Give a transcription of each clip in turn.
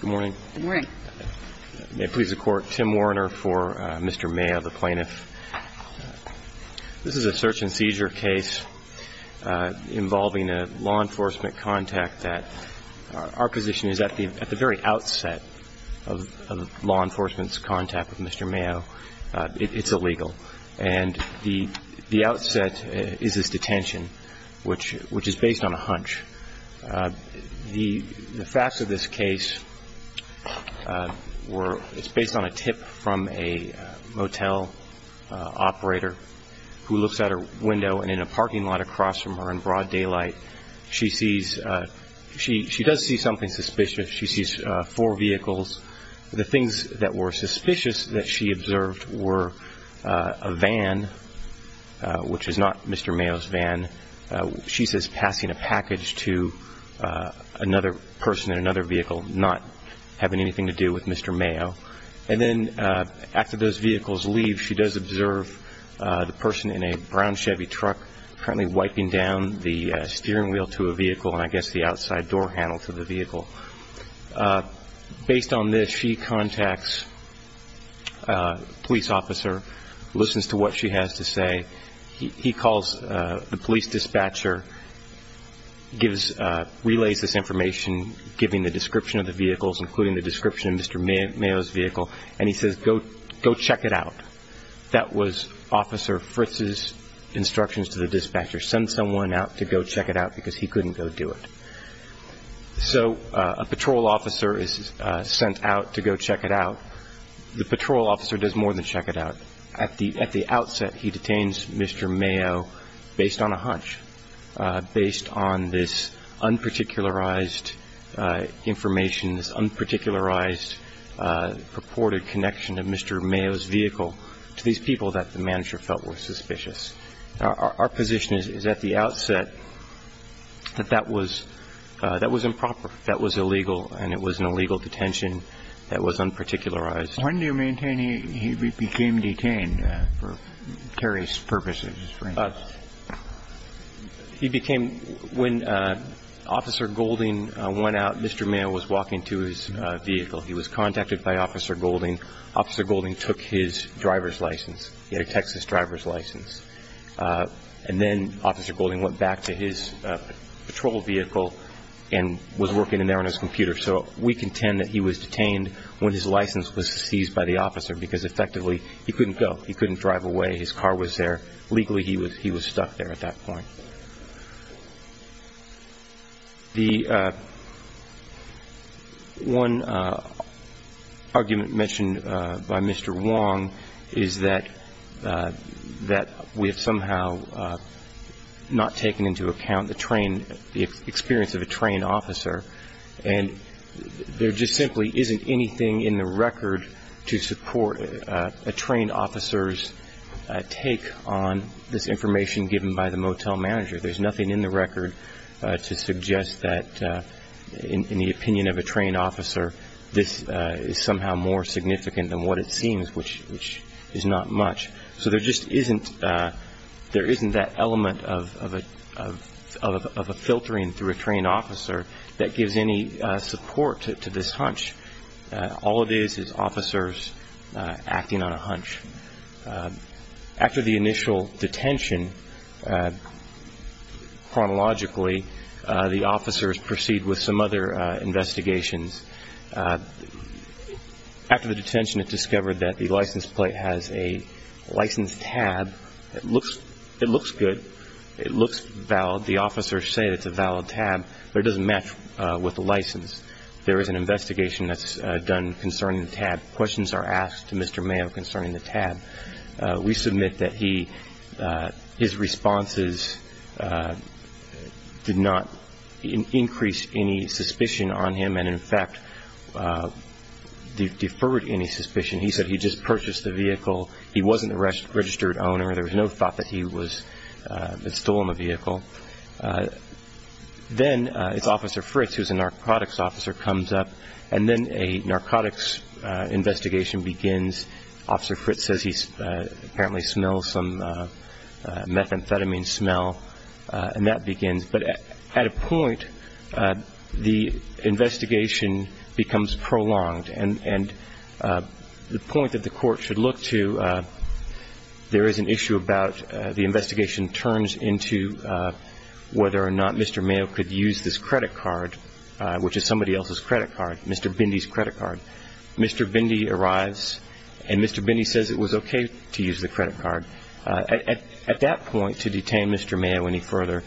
Good morning. Good morning. May it please the Court, Tim Warner for Mr. Mayo, the plaintiff. This is a search and seizure case involving a law enforcement contact that our position is at the very outset of law enforcement's contact with Mr. Mayo. It's illegal. And the outset is his detention, which is based on a hunch. The facts of this case were, it's based on a tip from a motel operator who looks out her window and in a parking lot across from her in broad daylight, she sees, she does see something suspicious. She sees four vehicles. The things that were suspicious that she observed were a van, which is not Mr. Mayo's van. She says passing a package to another person in another vehicle not having anything to do with Mr. Mayo. And then after those vehicles leave, she does observe the person in a brown Chevy truck currently wiping down the steering wheel to a vehicle and I guess the outside door handle to the vehicle. Based on this, she contacts a police officer, listens to what she has to say. He calls the police dispatcher, relays this information, giving the description of the vehicles, including the description of Mr. Mayo's vehicle, and he says, go check it out. That was Officer Fritz's instructions to the dispatcher. Send someone out to go check it out because he couldn't go do it. So a patrol officer is sent out to go check it out. The patrol officer does more than check it out. At the outset, he detains Mr. Mayo based on a hunch, based on this unparticularized information, this unparticularized purported connection of Mr. Mayo's vehicle to these people that the manager felt were suspicious. Our position is at the outset that that was improper, that was illegal, and it was an illegal detention that was unparticularized. When do you maintain he became detained for Terry's purposes? When Officer Golding went out, Mr. Mayo was walking to his vehicle. He was contacted by Officer Golding. Officer Golding took his driver's license. He had a Texas driver's license. And then Officer Golding went back to his patrol vehicle and was working in there on his computer. So we contend that he was detained when his license was seized by the officer because, effectively, he couldn't go. He couldn't drive away. His car was there. Legally, he was stuck there at that point. The one argument mentioned by Mr. Wong is that we have somehow not taken into account the train, the experience of a trained officer, and there just simply isn't anything in the record to support a trained officer's take on this information given by the motel manager. There's nothing in the record to suggest that, in the opinion of a trained officer, this is somehow more significant than what it seems, which is not much. So there just isn't that element of a filtering through a trained officer that gives any support to this hunch. All it is is officers acting on a hunch. After the initial detention, chronologically, the officers proceed with some other investigations. After the detention, it's discovered that the license plate has a license tab. It looks good. It looks valid. The officers say it's a valid tab, but it doesn't match with the license. There is an investigation that's done concerning the tab. Questions are asked to Mr. Mayo concerning the tab. We submit that his responses did not increase any suspicion on him and, in fact, deferred any suspicion. He said he just purchased the vehicle. He wasn't the registered owner. There was no thought that he had stolen the vehicle. Then it's Officer Fritz, who's a narcotics officer, comes up, and then a narcotics investigation begins. Officer Fritz says he apparently smells some methamphetamine smell, and that begins. But at a point, the investigation becomes prolonged, and the point that the court should look to, there is an issue about the investigation turns into whether or not Mr. Mayo could use this credit card, which is somebody else's credit card, Mr. Bindi's credit card. Mr. Bindi arrives, and Mr. Bindi says it was okay to use the credit card. At that point, to detain Mr. Mayo any further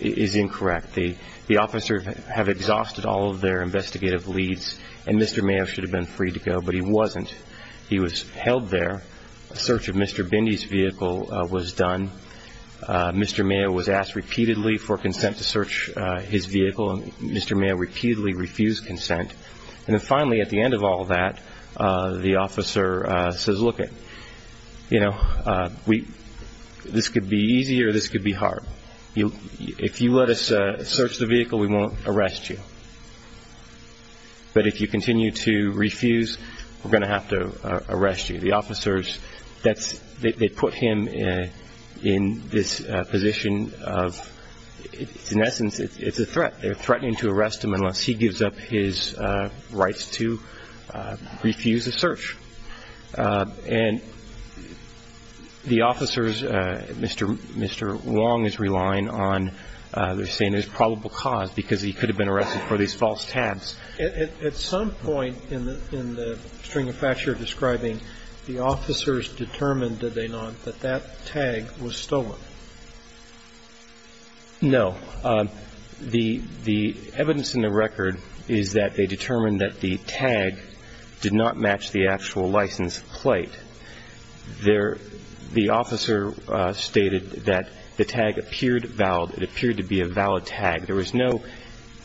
is incorrect. The officers have exhausted all of their investigative leads, and Mr. Mayo should have been free to go, but he wasn't. He was held there. A search of Mr. Bindi's vehicle was done. Mr. Mayo was asked repeatedly for consent to search his vehicle, and Mr. Mayo repeatedly refused consent. And then finally, at the end of all that, the officer says, look, this could be easy or this could be hard. If you let us search the vehicle, we won't arrest you. But if you continue to refuse, we're going to have to arrest you. The officers, they put him in this position of, in essence, it's a threat. They're threatening to arrest him unless he gives up his rights to refuse a search. And the officers, Mr. Wong is relying on, they're saying there's probable cause, because he could have been arrested for these false tags. At some point in the string of facts you're describing, the officers determined, did they not, that that tag was stolen? No. The evidence in the record is that they determined that the tag did not match the actual license plate. The officer stated that the tag appeared valid. It appeared to be a valid tag. There was no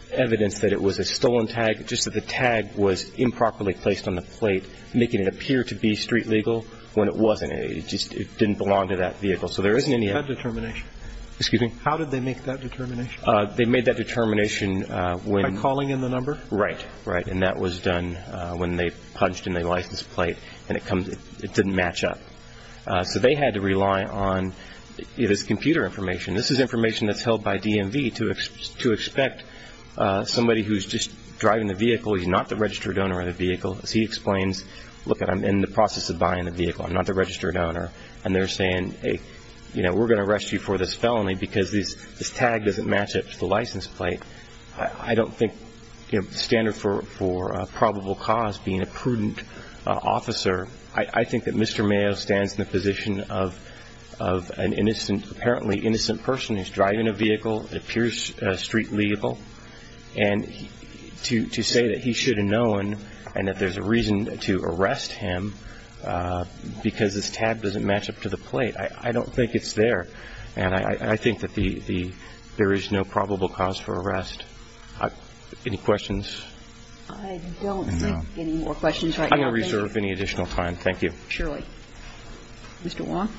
evidence that it was a stolen tag, just that the tag was improperly placed on the plate, making it appear to be street legal when it wasn't. It just didn't belong to that vehicle. So there isn't any other determination. Excuse me? How did they make that determination? They made that determination when- By calling in the number? Right, right. And that was done when they punched in the license plate and it didn't match up. So they had to rely on this computer information. This is information that's held by DMV to expect somebody who's just driving the vehicle, he's not the registered owner of the vehicle, as he explains, look, I'm in the process of buying the vehicle, I'm not the registered owner. And they're saying, hey, you know, we're going to arrest you for this felony because this tag doesn't match up to the license plate. I don't think the standard for probable cause, being a prudent officer, I think that Mr. Mayo stands in the position of an innocent, apparently innocent person who's driving a vehicle that appears street legal, and to say that he should have known and that there's a reason to arrest him because his tag doesn't match up to the plate. I don't think it's there. And I think that there is no probable cause for arrest. Any questions? I don't see any more questions right now. I'm going to reserve any additional time. Thank you. Surely. Mr. Wong?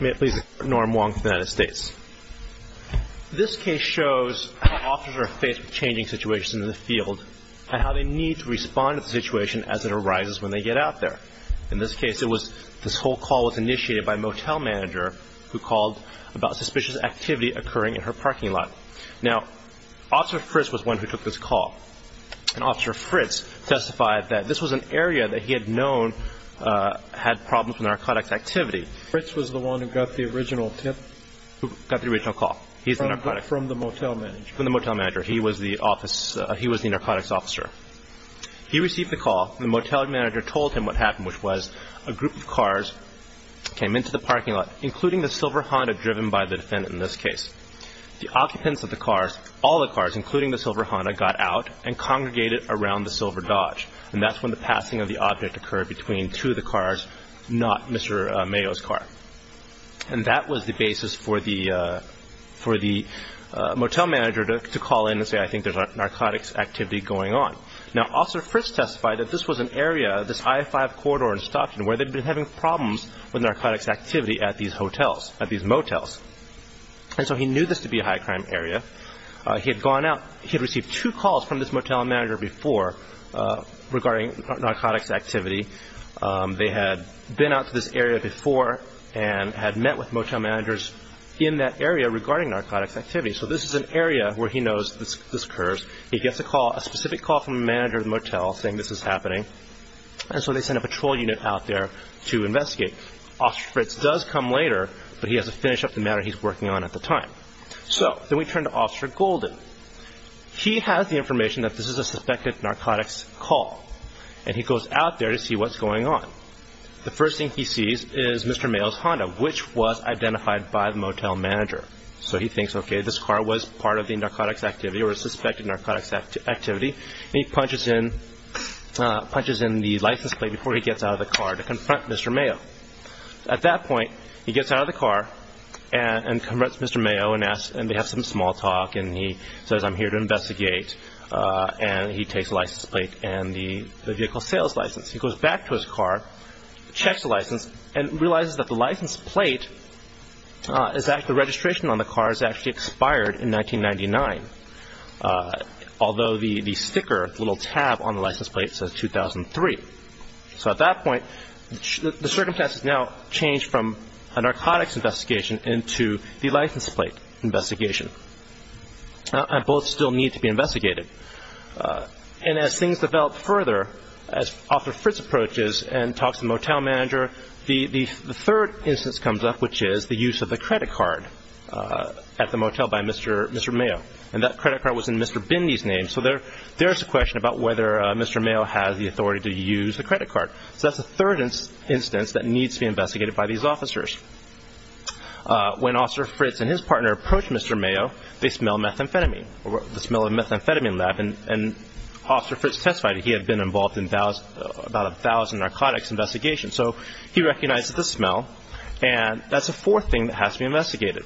May it please the Court, Norm Wong, United States. This case shows how officers are faced with changing situations in the field and how they need to respond to the situation as it arises when they get out there. In this case, this whole call was initiated by a motel manager who called about suspicious activity occurring in her parking lot. Now, Officer Fritz was the one who took this call. And Officer Fritz testified that this was an area that he had known had problems with narcotics activity. Fritz was the one who got the original tip? Who got the original call. From the motel manager. From the motel manager. He was the narcotics officer. He received the call. The motel manager told him what happened, which was a group of cars came into the parking lot, including the silver Honda driven by the defendant in this case. The occupants of the cars, all the cars, including the silver Honda, got out and congregated around the silver Dodge. And that's when the passing of the object occurred between two of the cars, not Mr. Mayo's car. And that was the basis for the motel manager to call in and say, I think there's a narcotics activity going on. Now, Officer Fritz testified that this was an area, this I-5 corridor in Stockton, where they'd been having problems with narcotics activity at these motels. And so he knew this to be a high-crime area. He had gone out. He had received two calls from this motel manager before regarding narcotics activity. They had been out to this area before and had met with motel managers in that area regarding narcotics activity. So this is an area where he knows this occurs. He gets a call, a specific call from the manager of the motel saying this is happening. And so they send a patrol unit out there to investigate. Officer Fritz does come later, but he has to finish up the matter he's working on at the time. So then we turn to Officer Golden. He has the information that this is a suspected narcotics call. And he goes out there to see what's going on. The first thing he sees is Mr. Mayo's Honda, which was identified by the motel manager. So he thinks, okay, this car was part of the narcotics activity or a suspected narcotics activity. And he punches in the license plate before he gets out of the car to confront Mr. Mayo. At that point, he gets out of the car and confronts Mr. Mayo and they have some small talk and he says, I'm here to investigate. And he takes the license plate and the vehicle sales license. He goes back to his car, checks the license, and realizes that the license plate, the registration on the car is actually expired in 1999, although the sticker, the little tab on the license plate says 2003. So at that point, the circumstances now change from a narcotics investigation into the license plate investigation. And both still need to be investigated. And as things develop further, as Officer Fritz approaches and talks to the motel manager, the third instance comes up, which is the use of the credit card at the motel by Mr. Mayo. And that credit card was in Mr. Bindi's name, so there's a question about whether Mr. Mayo has the authority to use the credit card. So that's the third instance that needs to be investigated by these officers. When Officer Fritz and his partner approach Mr. Mayo, they smell methamphetamine, the smell of the methamphetamine lab, and Officer Fritz testified that he had been involved in about a thousand narcotics investigations. So he recognizes the smell, and that's the fourth thing that has to be investigated.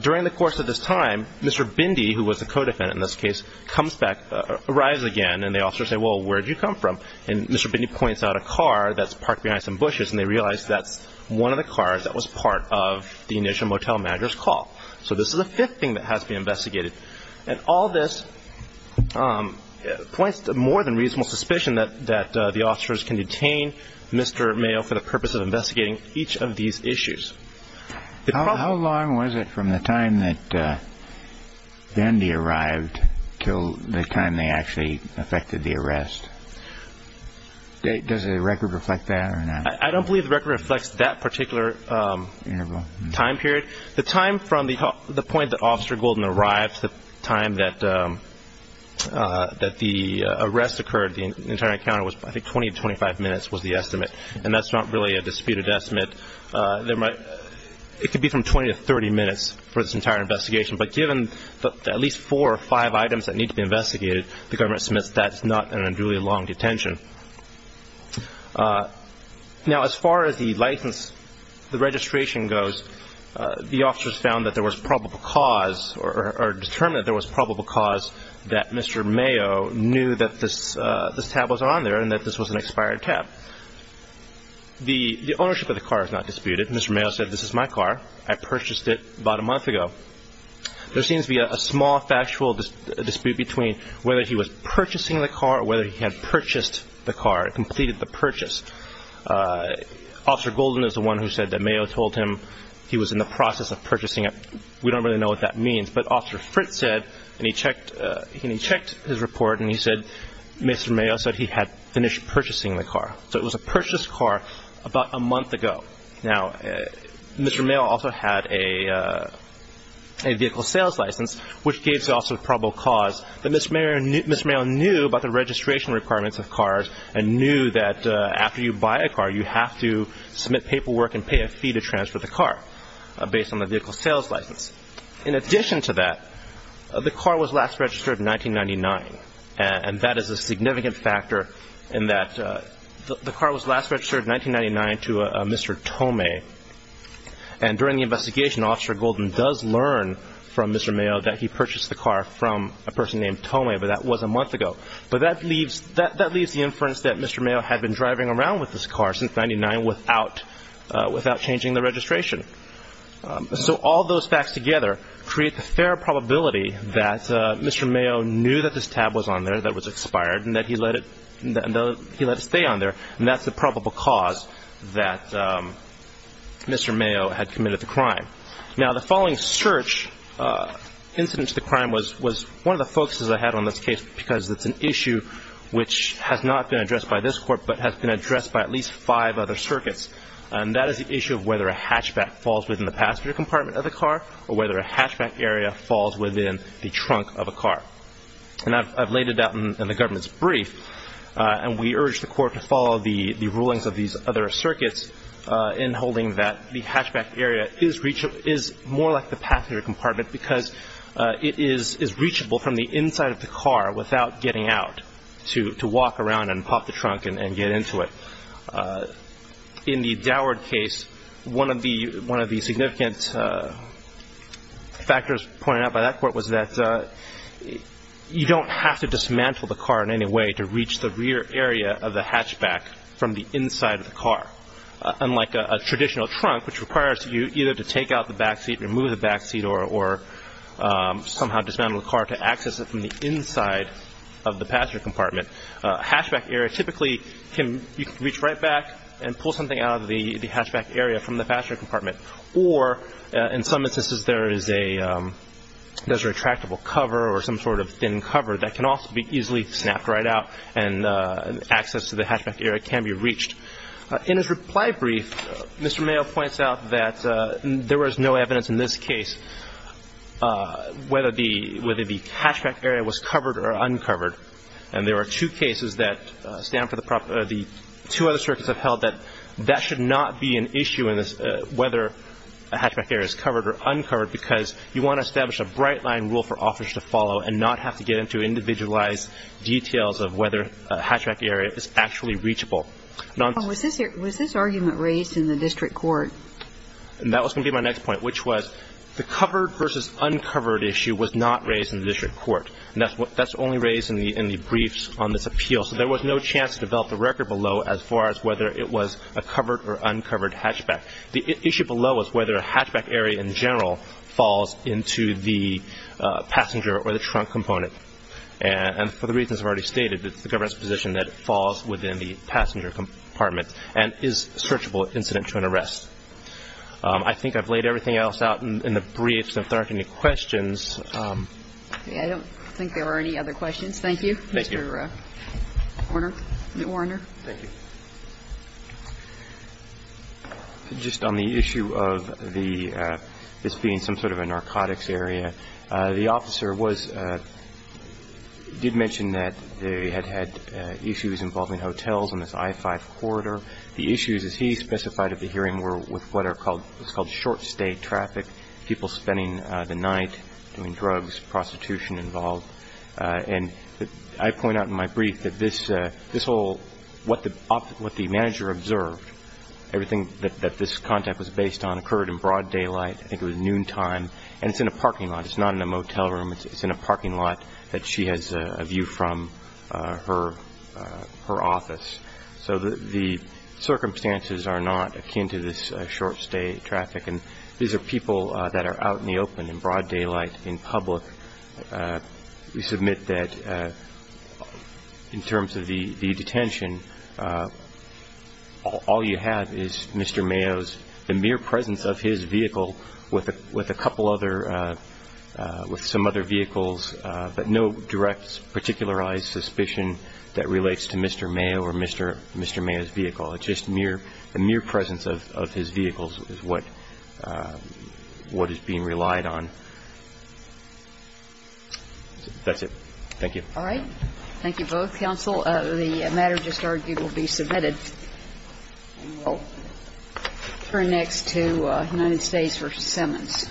During the course of this time, Mr. Bindi, who was the co-defendant in this case, comes back, arrives again, and the officers say, well, where did you come from? And Mr. Bindi points out a car that's parked behind some bushes, and they realize that's one of the cars that was part of the initial motel manager's call. So this is the fifth thing that has to be investigated. And all this points to more than reasonable suspicion that the officers can detain Mr. Mayo for the purpose of investigating each of these issues. How long was it from the time that Bindi arrived till the time they actually affected the arrest? Does the record reflect that or not? I don't believe the record reflects that particular time period. The time from the point that Officer Golden arrived to the time that the arrest occurred, the entire encounter was I think 20 to 25 minutes was the estimate, and that's not really a disputed estimate. It could be from 20 to 30 minutes for this entire investigation, that's not an unduly long detention. Now, as far as the registration goes, the officers found that there was probable cause or determined that there was probable cause that Mr. Mayo knew that this tab was on there and that this was an expired tab. The ownership of the car is not disputed. Mr. Mayo said, this is my car. I purchased it about a month ago. There seems to be a small factual dispute between whether he was purchasing the car or whether he had purchased the car, completed the purchase. Officer Golden is the one who said that Mayo told him he was in the process of purchasing it. We don't really know what that means, but Officer Fritz said, and he checked his report and he said Mr. Mayo said he had finished purchasing the car. So it was a purchased car about a month ago. Now, Mr. Mayo also had a vehicle sales license, which gave the officer probable cause that Mr. Mayo knew about the registration requirements of cars and knew that after you buy a car, you have to submit paperwork and pay a fee to transfer the car based on the vehicle sales license. In addition to that, the car was last registered in 1999, and that is a significant factor in that the car was last registered in 1999 to Mr. Tomei. And during the investigation, Officer Golden does learn from Mr. Mayo that he purchased the car from a person named Tomei, but that was a month ago. But that leaves the inference that Mr. Mayo had been driving around with this car since 1999 without changing the registration. So all those facts together create the fair probability that Mr. Mayo knew that this tab was on there, that it was expired, and that he let it stay on there, and that's the probable cause that Mr. Mayo had committed the crime. Now, the following search incident to the crime was one of the focuses I had on this case because it's an issue which has not been addressed by this court, but has been addressed by at least five other circuits, and that is the issue of whether a hatchback falls within the passenger compartment of the car or whether a hatchback area falls within the trunk of a car. And I've laid it out in the government's brief, and we urge the court to follow the rulings of these other circuits in holding that the hatchback area is more like the passenger compartment because it is reachable from the inside of the car without getting out to walk around and pop the trunk and get into it. In the Doward case, one of the significant factors pointed out by that court was that you don't have to dismantle the car in any way to reach the rear area of the hatchback from the inside of the car, unlike a traditional trunk, which requires you either to take out the backseat, remove the backseat, or somehow dismantle the car to access it from the inside of the passenger compartment. A hatchback area typically can be reached right back and pull something out of the hatchback area from the passenger compartment, or in some instances there is a retractable cover or some sort of thin cover that can also be easily snapped right out and access to the hatchback area can be reached. In his reply brief, Mr. Mayo points out that there was no evidence in this case whether the hatchback area was covered or uncovered, and there are two cases that stand for the two other circuits that have held that that should not be an issue whether a hatchback area is covered or uncovered because you want to establish a bright line rule for officers to follow and not have to get into individualized details of whether a hatchback area is actually reachable. Was this argument raised in the district court? That was going to be my next point, which was the covered versus uncovered issue was not raised in the district court. That's only raised in the briefs on this appeal, so there was no chance to develop a record below as far as whether it was a covered or uncovered hatchback. The issue below is whether a hatchback area in general falls into the passenger or the trunk component, and for the reasons I've already stated, it's the government's position that it falls within the passenger compartment and is a searchable incident to an arrest. I think I've laid everything else out in the briefs, and if there aren't any questions. I don't think there are any other questions. Thank you. Thank you. Mr. Warner. Thank you. Just on the issue of the this being some sort of a narcotics area, the officer did mention that they had had issues involving hotels in this I-5 corridor. The issues, as he specified at the hearing, were with what are called short-stay traffic, people spending the night doing drugs, prostitution involved. And I point out in my brief that this whole, what the manager observed, everything that this contact was based on occurred in broad daylight. I think it was noontime, and it's in a parking lot. It's not in a motel room. It's in a parking lot that she has a view from her office. So the circumstances are not akin to this short-stay traffic, and these are people that are out in the open in broad daylight in public. We submit that in terms of the detention, all you have is Mr. Mayo's, the mere presence of his vehicle with a couple other, with some other vehicles, but no direct, particularized suspicion that relates to Mr. Mayo or Mr. Mayo's vehicle, just the mere presence of his vehicles is what is being relied on. That's it. Thank you. All right. Thank you both. Counsel, the matter just argued will be submitted. We will turn next to United States v. Simmons.